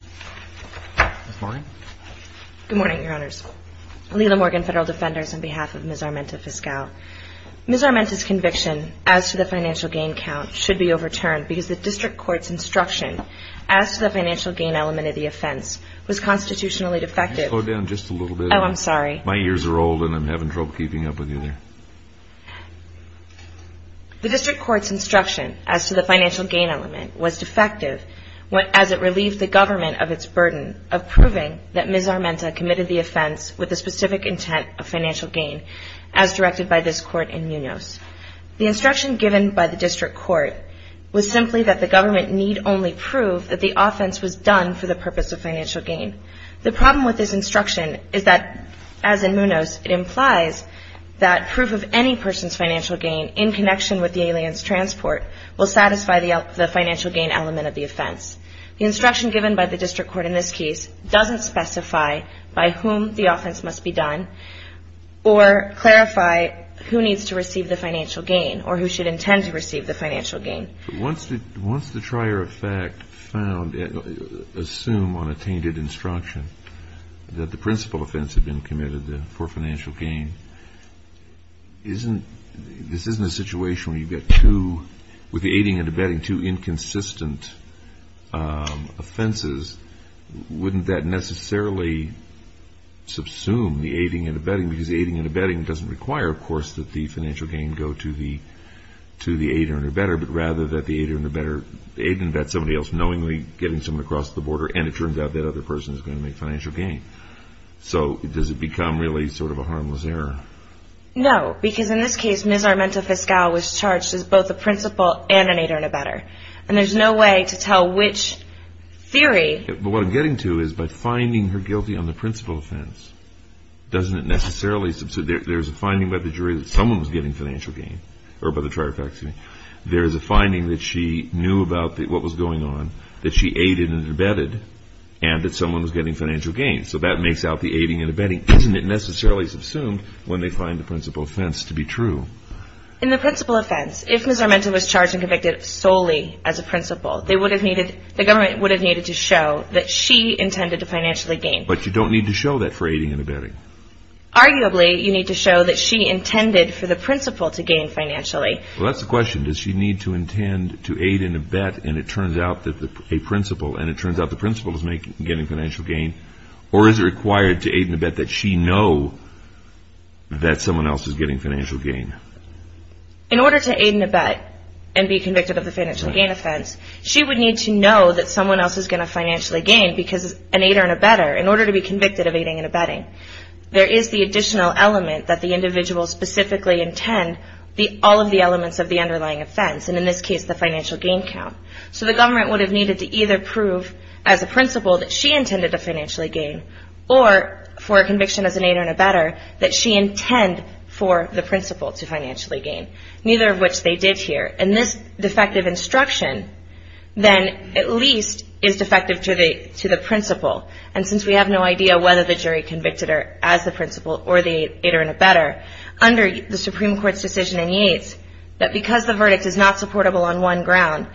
Ms. Armenta's conviction as to the financial gain count should be overturned because the district court's instruction as to the financial gain element of the offense was constitutionally defective as it relieved the government of the financial gain element of the offense. of proving that Ms. Armenta committed the offense with the specific intent of financial gain as directed by this court in Munoz. The instruction given by the district court was simply that the government need only prove that the offense was done for the purpose of financial gain. The problem with this instruction is that, as in Munoz, it implies that proof of any person's financial gain in connection with the alien's transport will satisfy the financial gain element of the offense. The instruction given by the district court in this case doesn't specify by whom the offense must be done or clarify who needs to receive the financial gain or who should intend to receive the financial gain. Once the trier of fact assumed on a tainted instruction that the principal offense had been committed for financial gain, this isn't a situation where you get two, with the aiding and abetting, two inconsistent offenses. Wouldn't that necessarily subsume the aiding and abetting because the aiding and abetting doesn't require, of course, that the financial gain go to the aid or abetter, but rather that the aid or abetter aid and abet somebody else knowingly getting someone across the border and it turns out that other person is going to make financial gain. So does it become really sort of a harmless error? No, because in this case, Ms. Armenta Fiscal was charged as both a principal and an aid or abetter. And there's no way to tell which theory... But what I'm getting to is by finding her guilty on the principal offense, doesn't it necessarily subsume... There's a finding by the jury that someone was getting financial gain, or by the trier of facts. There's a finding that she knew about what was going on, that she aided and abetted, and that someone was getting financial gain. So that makes out the aiding and abetting. Isn't it necessarily subsumed when they find the principal offense to be true? In the principal offense, if Ms. Armenta was charged and convicted solely as a principal, the government would have needed to show that she intended to financially gain. But you don't need to show that for aiding and abetting. Arguably, you need to show that she intended for the principal to gain financially. Well, that's the question. Does she need to intend to aid and abet, and it turns out that a principal, or is it required to aid and abet that she know that someone else is getting financial gain? In order to aid and abet and be convicted of a financial gain offense, she would need to know that someone else is going to financially gain because an aider and abetter, in order to be convicted of aiding and abetting, there is the additional element that the individual specifically intend, all of the elements of the underlying offense, and in this case, the financial gain count. So the government would have needed to either prove as a principal that she intended to financially gain or for a conviction as an aider and abetter that she intend for the principal to financially gain, neither of which they did here. And this defective instruction then at least is defective to the principal. And since we have no idea whether the jury convicted her as the principal or the aider and abetter, under the Supreme Court's decision in Yates, that because the verdict is not supportable on one ground,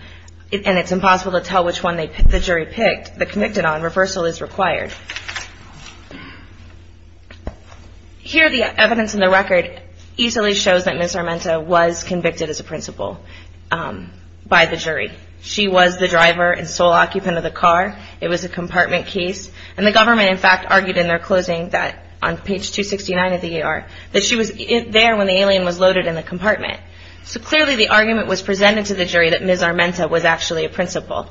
and it's impossible to tell which one the jury picked, the convicted on, reversal is required. Here the evidence in the record easily shows that Ms. Armenta was convicted as a principal by the jury. She was the driver and sole occupant of the car. It was a compartment case. And the government, in fact, argued in their closing that on page 269 of the ER, that she was there when the alien was loaded in the compartment. So clearly the argument was presented to the jury that Ms. Armenta was actually a principal.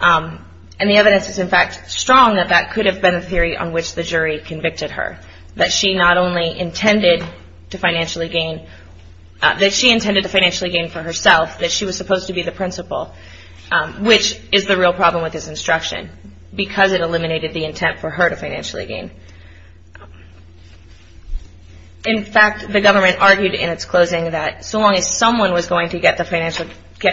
And the evidence is, in fact, strong that that could have been a theory on which the jury convicted her, that she not only intended to financially gain, that she intended to financially gain for herself, that she was supposed to be the principal, which is the real problem with this instruction, because it eliminated the intent for her to financially gain. In fact, the government argued in its closing that so long as someone was going to get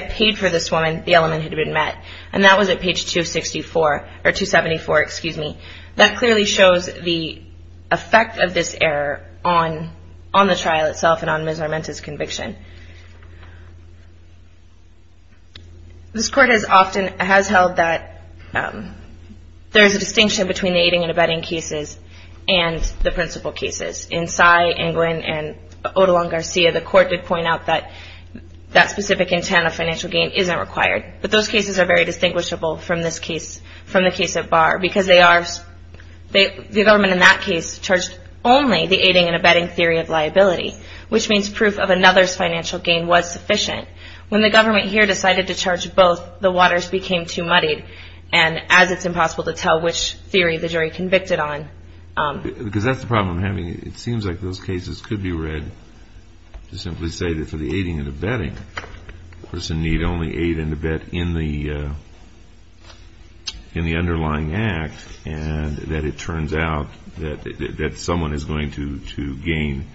paid for this woman, the element had been met. And that was at page 264, or 274, excuse me. That clearly shows the effect of this error on the trial itself and on Ms. Armenta's conviction. This court has often held that there is a distinction between the aiding and abetting cases and the principal cases. In Sy, and Glynn, and Odalong-Garcia, the court did point out that that specific intent of financial gain isn't required. But those cases are very distinguishable from this case, from the case of Barr, because the government in that case charged only the aiding and abetting theory of liability, which means proof of another's financial gain was sufficient. When the government here decided to charge both, the waters became too muddied, and as it's impossible to tell which theory the jury convicted on. Because that's the problem. It seems like those cases could be read to simply say that for the aiding and abetting, the person need only aid and abet in the underlying act, and that it turns out that someone is going to gain,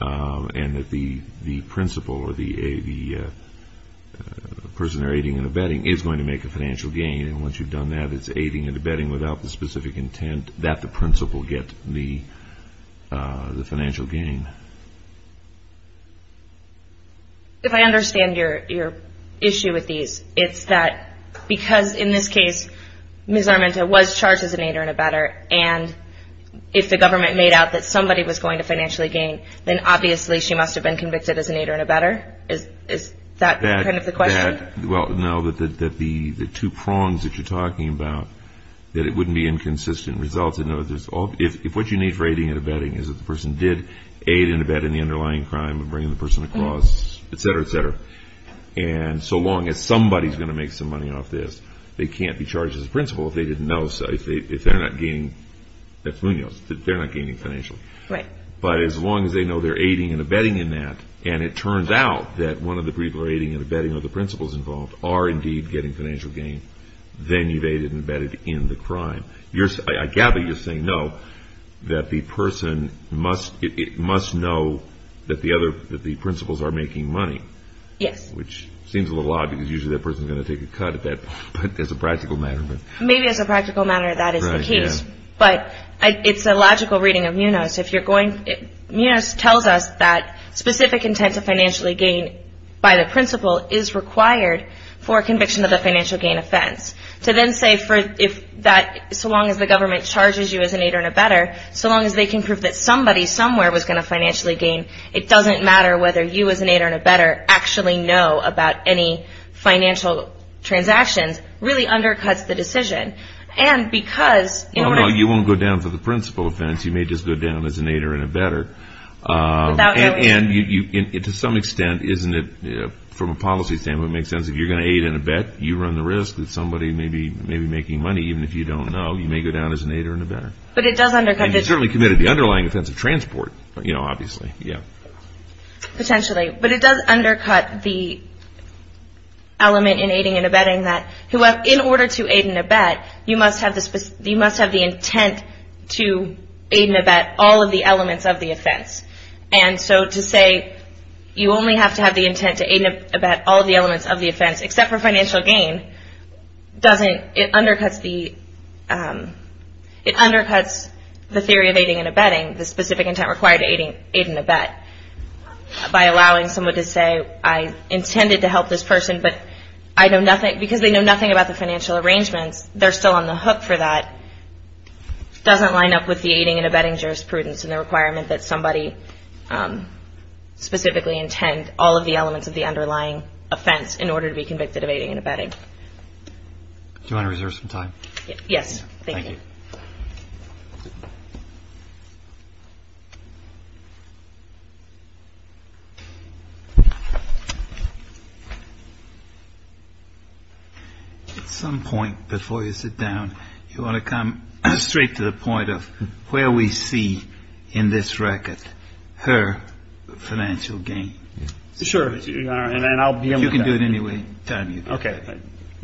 and that the principal or the person aiding and abetting is going to make a financial gain. And once you've done that, it's aiding and abetting without the specific intent that the principal get the financial gain. If I understand your issue with these, it's that because in this case, Ms. Armenta was charged as an aider and abetter, and if the government made out that somebody was going to financially gain, then obviously she must have been convicted as an aider and abetter? Is that kind of the question? Well, no, that the two prongs that you're talking about, that it wouldn't be inconsistent results. If what you need for aiding and abetting is that the person did aid and abet in the underlying crime of bringing the person across, et cetera, et cetera, and so long as somebody is going to make some money off this, they can't be charged as a principal if they didn't know, if they're not gaining financial. But as long as they know they're aiding and abetting in that, and it turns out that one of the people aiding and abetting or the principal is involved are indeed getting financial gain, then you've aided and abetted in the crime. I gather you're saying no, that the person must know that the principals are making money. Yes. Which seems a little odd because usually that person is going to take a cut as a practical matter. Maybe as a practical matter that is the case, but it's a logical reading of Munos. Munos tells us that specific intent to financially gain by the principal is required for conviction of the financial gain offense. To then say so long as the government charges you as an aid or an abetter, so long as they can prove that somebody somewhere was going to financially gain, it doesn't matter whether you as an aid or an abetter actually know about any financial transactions, really undercuts the decision. No, no, you won't go down for the principal offense. You may just go down as an aid or an abetter. And to some extent, isn't it, from a policy standpoint, it makes sense if you're going to aid and abet, you run the risk that somebody may be making money. Even if you don't know, you may go down as an aid or an abetter. But it does undercut this. And you certainly committed the underlying offense of transport, obviously. Potentially, but it does undercut the element in aiding and abetting that in order to aid and abet, you must have the intent to aid and abet all of the elements of the offense. And so to say you only have to have the intent to aid and abet all of the elements of the offense, except for financial gain, it undercuts the theory of aiding and abetting, the specific intent required to aid and abet, by allowing someone to say, I intended to help this person, but because they know nothing about the financial arrangements, they're still on the hook for that, doesn't line up with the aiding and abetting jurisprudence and the requirement that somebody specifically intend all of the elements of the underlying offense in order to be convicted of aiding and abetting. Do you want to reserve some time? Yes. Thank you. At some point before you sit down, you want to come straight to the point of where we see in this record her financial gain. Sure. And I'll begin with that. You can do it anyway. Okay.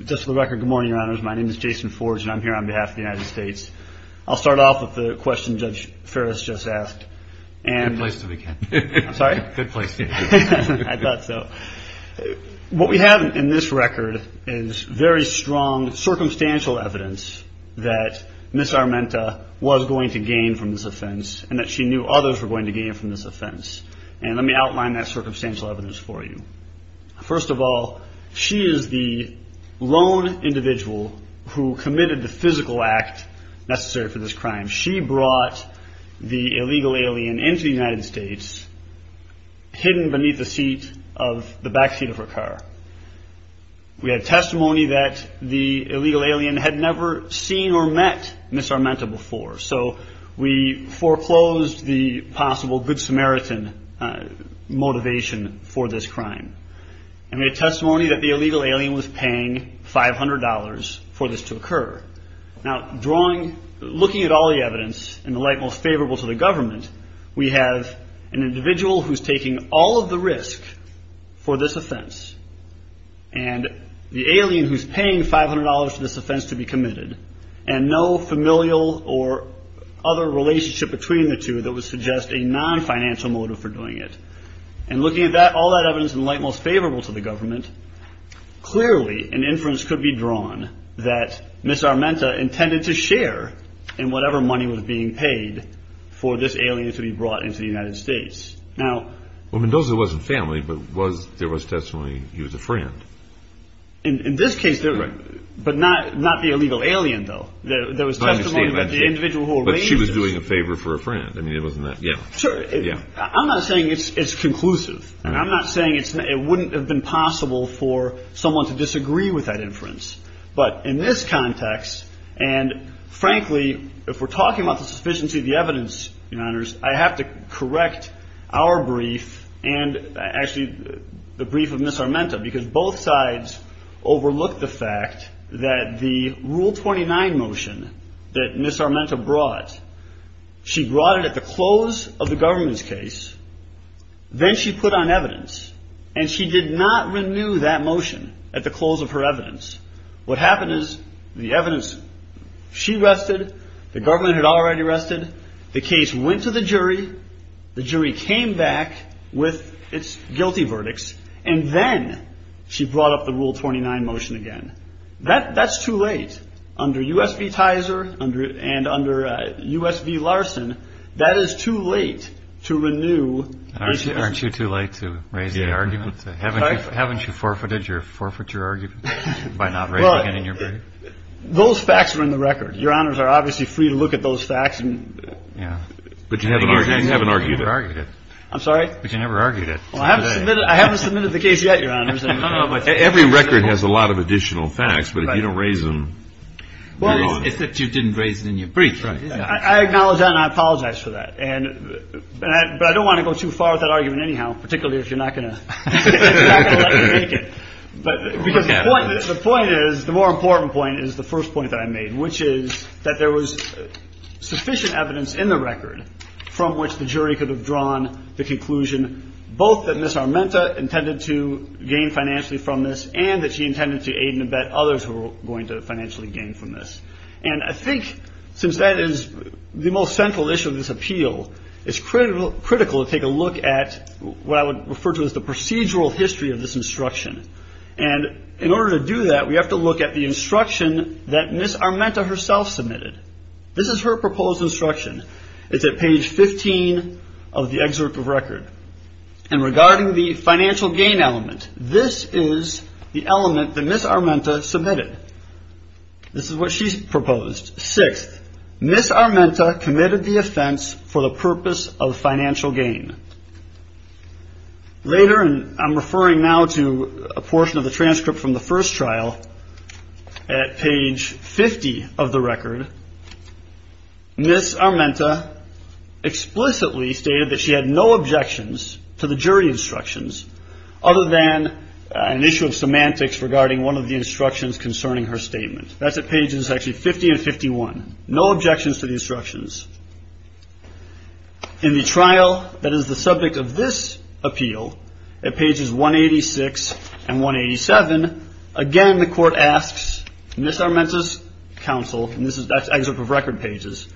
Just for the record, good morning, Your Honors. My name is Jason Forge, and I'm here on behalf of the United States. I'll start off with the question Judge Ferris just asked. Good place to begin. I'm sorry? Good place to begin. I thought so. What we have in this record is very strong circumstantial evidence that Ms. Armenta was going to gain from this offense and that she knew others were going to gain from this offense. And let me outline that circumstantial evidence for you. First of all, she is the lone individual who committed the physical act necessary for this crime. She brought the illegal alien into the United States hidden beneath the backseat of her car. We have testimony that the illegal alien had never seen or met Ms. Armenta before, so we foreclosed the possible Good Samaritan motivation for this crime. And we have testimony that the illegal alien was paying $500 for this to occur. Now, looking at all the evidence in the light most favorable to the government, we have an individual who's taking all of the risk for this offense, and the alien who's paying $500 for this offense to be committed, and no familial or other relationship between the two that would suggest a non-financial motive for doing it. And looking at all that evidence in the light most favorable to the government, clearly an inference could be drawn that Ms. Armenta intended to share in whatever money was being paid for this alien to be brought into the United States. Well, Mendoza wasn't family, but there was testimony he was a friend. In this case, but not the illegal alien, though. There was testimony about the individual who arranged it. But she was doing a favor for a friend. I'm not saying it's conclusive, and I'm not saying it wouldn't have been possible for someone to disagree with that inference. But in this context, and frankly, if we're talking about the sufficiency of the evidence, I have to correct our brief, and actually the brief of Ms. Armenta, because both sides overlooked the fact that the Rule 29 motion that Ms. Armenta brought, she brought it at the close of the government's case. Then she put on evidence, and she did not renew that motion at the close of her evidence. What happened is the evidence, she rested, the government had already rested, the case went to the jury, the jury came back with its guilty verdicts, and then she brought up the Rule 29 motion again. That's too late. Under U.S. v. Tizer and under U.S. v. Larson, that is too late to renew. Aren't you too late to raise the argument? Haven't you forfeited your argument by not raising it in your brief? Those facts are in the record. Your Honors are obviously free to look at those facts. But you haven't argued it. I'm sorry? But you never argued it. I haven't submitted the case yet, Your Honors. Every record has a lot of additional facts, but if you don't raise them, you're wrong. Except you didn't raise it in your brief. I acknowledge that, and I apologize for that. But I don't want to go too far with that argument anyhow, particularly if you're not going to let me make it. But the point is, the more important point is the first point that I made, which is that there was sufficient evidence in the record from which the jury could have drawn the conclusion both that Ms. Armenta intended to gain financially from this and that she intended to aid and abet others who were going to financially gain from this. And I think since that is the most central issue of this appeal, it's critical to take a look at what I would refer to as the procedural history of this instruction. And in order to do that, we have to look at the instruction that Ms. Armenta herself submitted. This is her proposed instruction. It's at page 15 of the excerpt of record. And regarding the financial gain element, this is the element that Ms. Armenta submitted. This is what she's proposed. Sixth, Ms. Armenta committed the offense for the purpose of financial gain. Later, and I'm referring now to a portion of the transcript from the first trial, at page 50 of the record, Ms. Armenta explicitly stated that she had no objections to the jury instructions other than an issue of semantics regarding one of the instructions concerning her statement. That's at pages 50 and 51. No objections to the instructions. In the trial that is the subject of this appeal, at pages 186 and 187, again the court asks Ms. Armenta's counsel, and that's excerpt of record pages,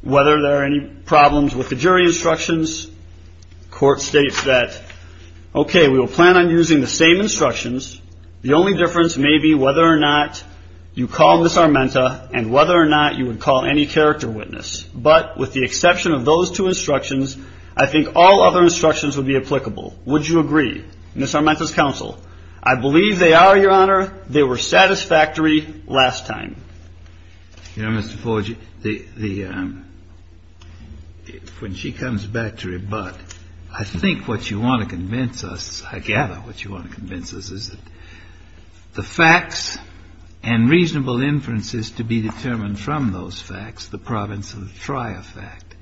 whether there are any problems with the jury instructions. The court states that, okay, we will plan on using the same instructions. The only difference may be whether or not you call Ms. Armenta and whether or not you would call any character witness. But with the exception of those two instructions, I think all other instructions would be applicable. Would you agree? Ms. Armenta's counsel, I believe they are, Your Honor. They were satisfactory last time. You know, Mr. Forgey, when she comes back to rebut, I think what you want to convince us, I gather what you want to convince us is that the facts and reasonable inferences to be determined from those facts, the province of the trial fact,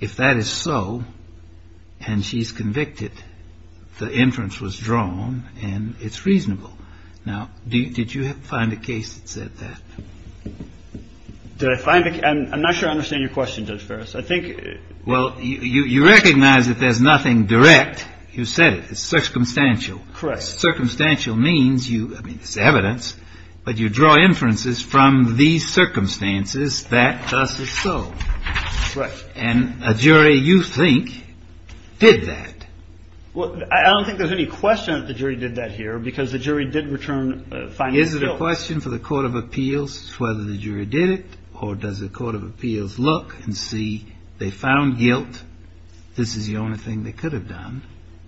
if that is so and she's convicted, the inference was drawn and it's reasonable. Now, did you find a case that said that? I'm not sure I understand your question, Judge Ferris. Well, you recognize that there's nothing direct. You said it. It's circumstantial. Correct. Circumstantial means you, I mean, it's evidence, but you draw inferences from these circumstances that thus is so. Correct. And a jury, you think, did that. Well, I don't think there's any question that the jury did that here, because the jury did return a finding of guilt. Is it a question for the court of appeals whether the jury did it or does the court of appeals look and see they found guilt, this is the only thing they could have done?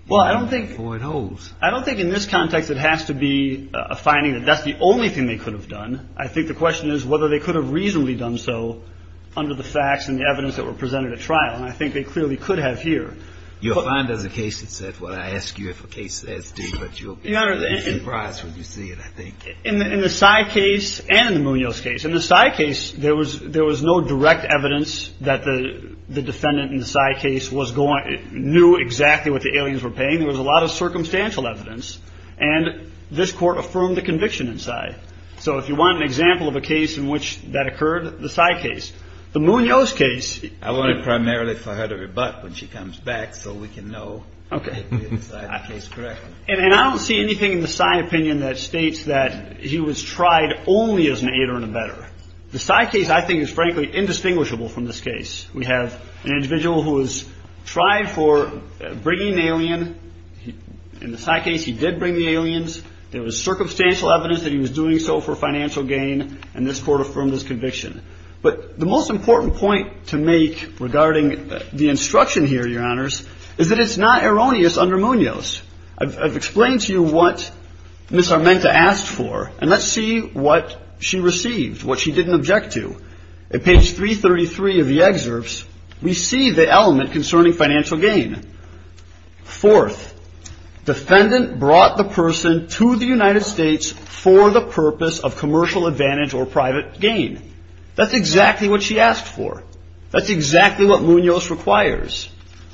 Well, I don't think. Or it holds. I don't think in this context it has to be a finding that that's the only thing they could have done. I think the question is whether they could have reasonably done so under the facts and the evidence that were presented at trial. And I think they clearly could have here. You'll find there's a case that said, well, I ask you if a case says D, but you'll be surprised when you see it, I think. In the Sy case and the Munoz case, in the Sy case, there was no direct evidence that the defendant in the Sy case knew exactly what the aliens were paying. There was a lot of circumstantial evidence. And this court affirmed the conviction in Sy. So if you want an example of a case in which that occurred, the Sy case. The Munoz case. I want it primarily for her to rebut when she comes back so we can know if we decided the case correctly. And I don't see anything in the Sy opinion that states that he was tried only as an aider and abetter. The Sy case, I think, is frankly indistinguishable from this case. We have an individual who was tried for bringing an alien. In the Sy case, he did bring the aliens. There was circumstantial evidence that he was doing so for financial gain. And this court affirmed his conviction. But the most important point to make regarding the instruction here, Your Honors, is that it's not erroneous under Munoz. I've explained to you what Ms. Armenta asked for. And let's see what she received, what she didn't object to. At page 333 of the excerpts, we see the element concerning financial gain. Fourth, defendant brought the person to the United States for the purpose of commercial advantage or private gain. That's exactly what she asked for. That's exactly what Munoz requires.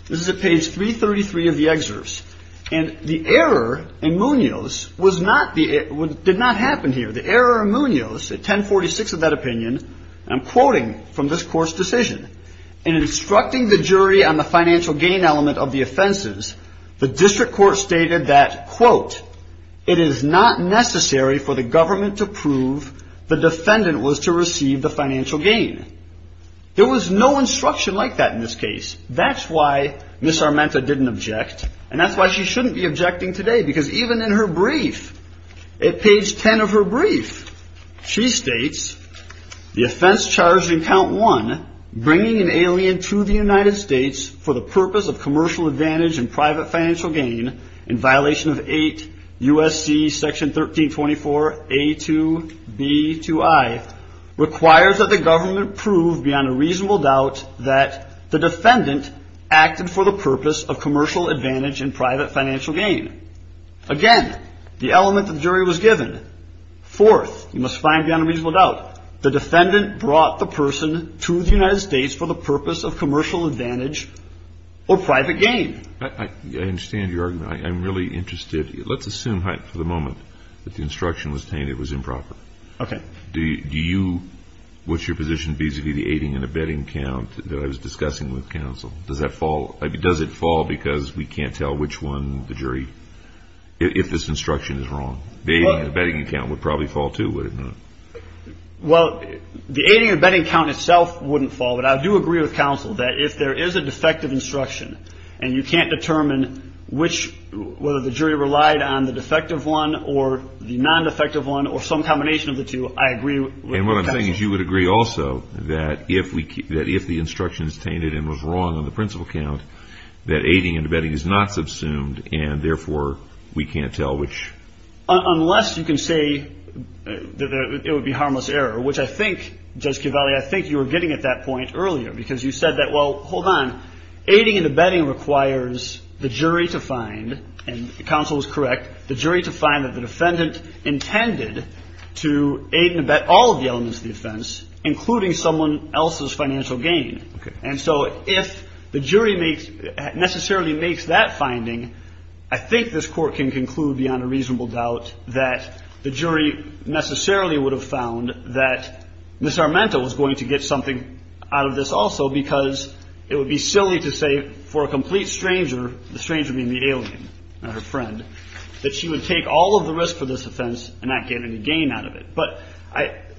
This is at page 333 of the excerpts. And the error in Munoz did not happen here. The error in Munoz at 1046 of that opinion, and I'm quoting from this court's decision, in instructing the jury on the financial gain element of the offenses, the district court stated that, quote, it is not necessary for the government to prove the defendant was to receive the financial gain. There was no instruction like that in this case. That's why Ms. Armenta didn't object. And that's why she shouldn't be objecting today. Because even in her brief, at page 10 of her brief, she states the offense charged in count one, bringing an alien to the United States for the purpose of commercial advantage and private financial gain, in violation of 8 U.S.C. section 1324 A2B2I, requires that the government prove beyond a reasonable doubt that the defendant acted for the purpose of commercial advantage and private financial gain. Again, the element of the jury was given. Fourth, you must find beyond a reasonable doubt, the defendant brought the person to the United States for the purpose of commercial advantage or private gain. I understand your argument. I'm really interested. Let's assume for the moment that the instruction was tainted, it was improper. Do you, what's your position vis-a-vis the aiding and abetting count that I was discussing with counsel? Does that fall, does it fall because we can't tell which one, the jury, if this instruction is wrong? The aiding and abetting count would probably fall too, would it not? Well, the aiding and abetting count itself wouldn't fall, but I do agree with counsel that if there is a defective instruction, and you can't determine which, whether the jury relied on the defective one or the non-defective one, or some combination of the two, I agree with counsel. And what I'm saying is you would agree also that if the instruction is tainted and was wrong on the principal count, that aiding and abetting is not subsumed and, therefore, we can't tell which. Unless you can say that it would be harmless error, which I think, Judge Cavalli, I think you were getting at that point earlier because you said that, well, hold on, aiding and abetting requires the jury to find, and counsel is correct, the jury to find that the defendant intended to aid and abet all of the elements of the offense, including someone else's financial gain. Okay. And so if the jury necessarily makes that finding, I think this Court can conclude beyond a reasonable doubt that the jury necessarily would have found that Ms. Armenta was going to get something out of this also because it would be silly to say for a complete stranger, the stranger being the alien and her friend, that she would take all of the risk for this offense and not get any gain out of it. But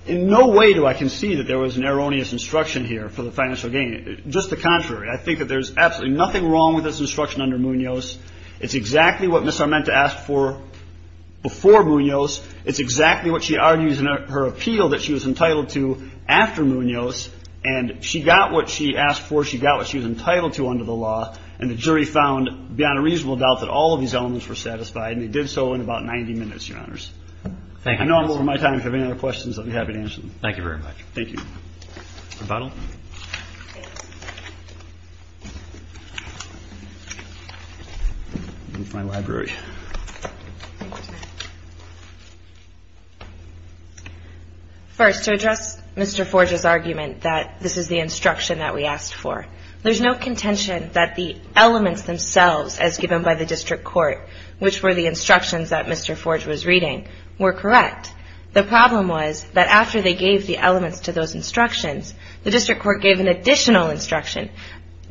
in no way do I concede that there was an erroneous instruction here for the financial gain. Just the contrary. I think that there's absolutely nothing wrong with this instruction under Munoz. It's exactly what Ms. Armenta asked for before Munoz. It's exactly what she argues in her appeal that she was entitled to after Munoz. And she got what she asked for. She got what she was entitled to under the law. And the jury found beyond a reasonable doubt that all of these elements were satisfied, and they did so in about 90 minutes, Your Honors. Thank you. I know I'm over my time. If you have any other questions, I'll be happy to answer them. Thank you very much. Thank you. Mr. Buttle. Move my library. First, to address Mr. Forge's argument that this is the instruction that we asked for, there's no contention that the elements themselves, as given by the district court, which were the instructions that Mr. Forge was reading, were correct. The problem was that after they gave the elements to those instructions, the district court gave an additional instruction,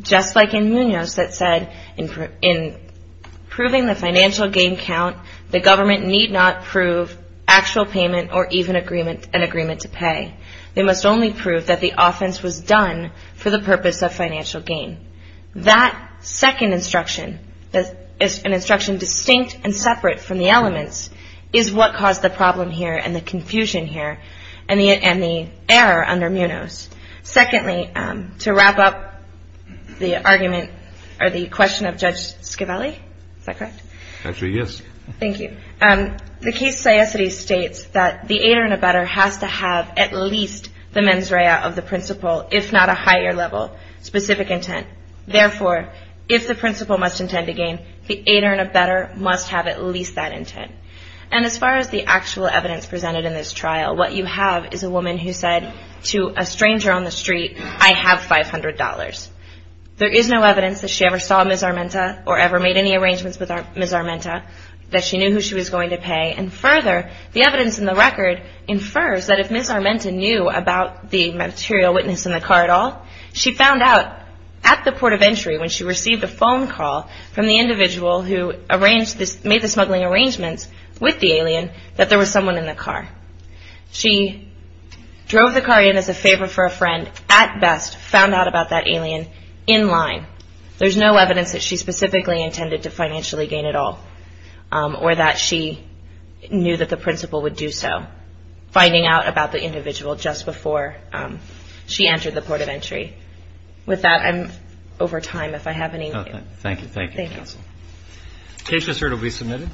just like in Munoz, that said in proving the financial gain count, the government need not prove actual payment or even an agreement to pay. They must only prove that the offense was done for the purpose of financial gain. That second instruction, an instruction distinct and separate from the elements, is what caused the problem here and the confusion here and the error under Munoz. Secondly, to wrap up the argument or the question of Judge Schiavelli, is that correct? Actually, yes. Thank you. The case of Siesity states that the aider and abetter has to have at least the mens rea of the principal, if not a higher level specific intent. Therefore, if the principal must intend to gain, the aider and abetter must have at least that intent. And as far as the actual evidence presented in this trial, what you have is a woman who said to a stranger on the street, I have $500. There is no evidence that she ever saw Ms. Armenta or ever made any arrangements with Ms. Armenta that she knew who she was going to pay. And further, the evidence in the record infers that if Ms. Armenta knew about the material witness in the car at all, she found out at the port of entry when she received a phone call from the individual who made the smuggling arrangements with the alien that there was someone in the car. She drove the car in as a favor for a friend, at best found out about that alien in line. There's no evidence that she specifically intended to financially gain at all or that she knew that the principal would do so, finding out about the individual just before she entered the port of entry. With that, I'm over time if I have any. Thank you. Thank you, counsel. Case result will be submitted.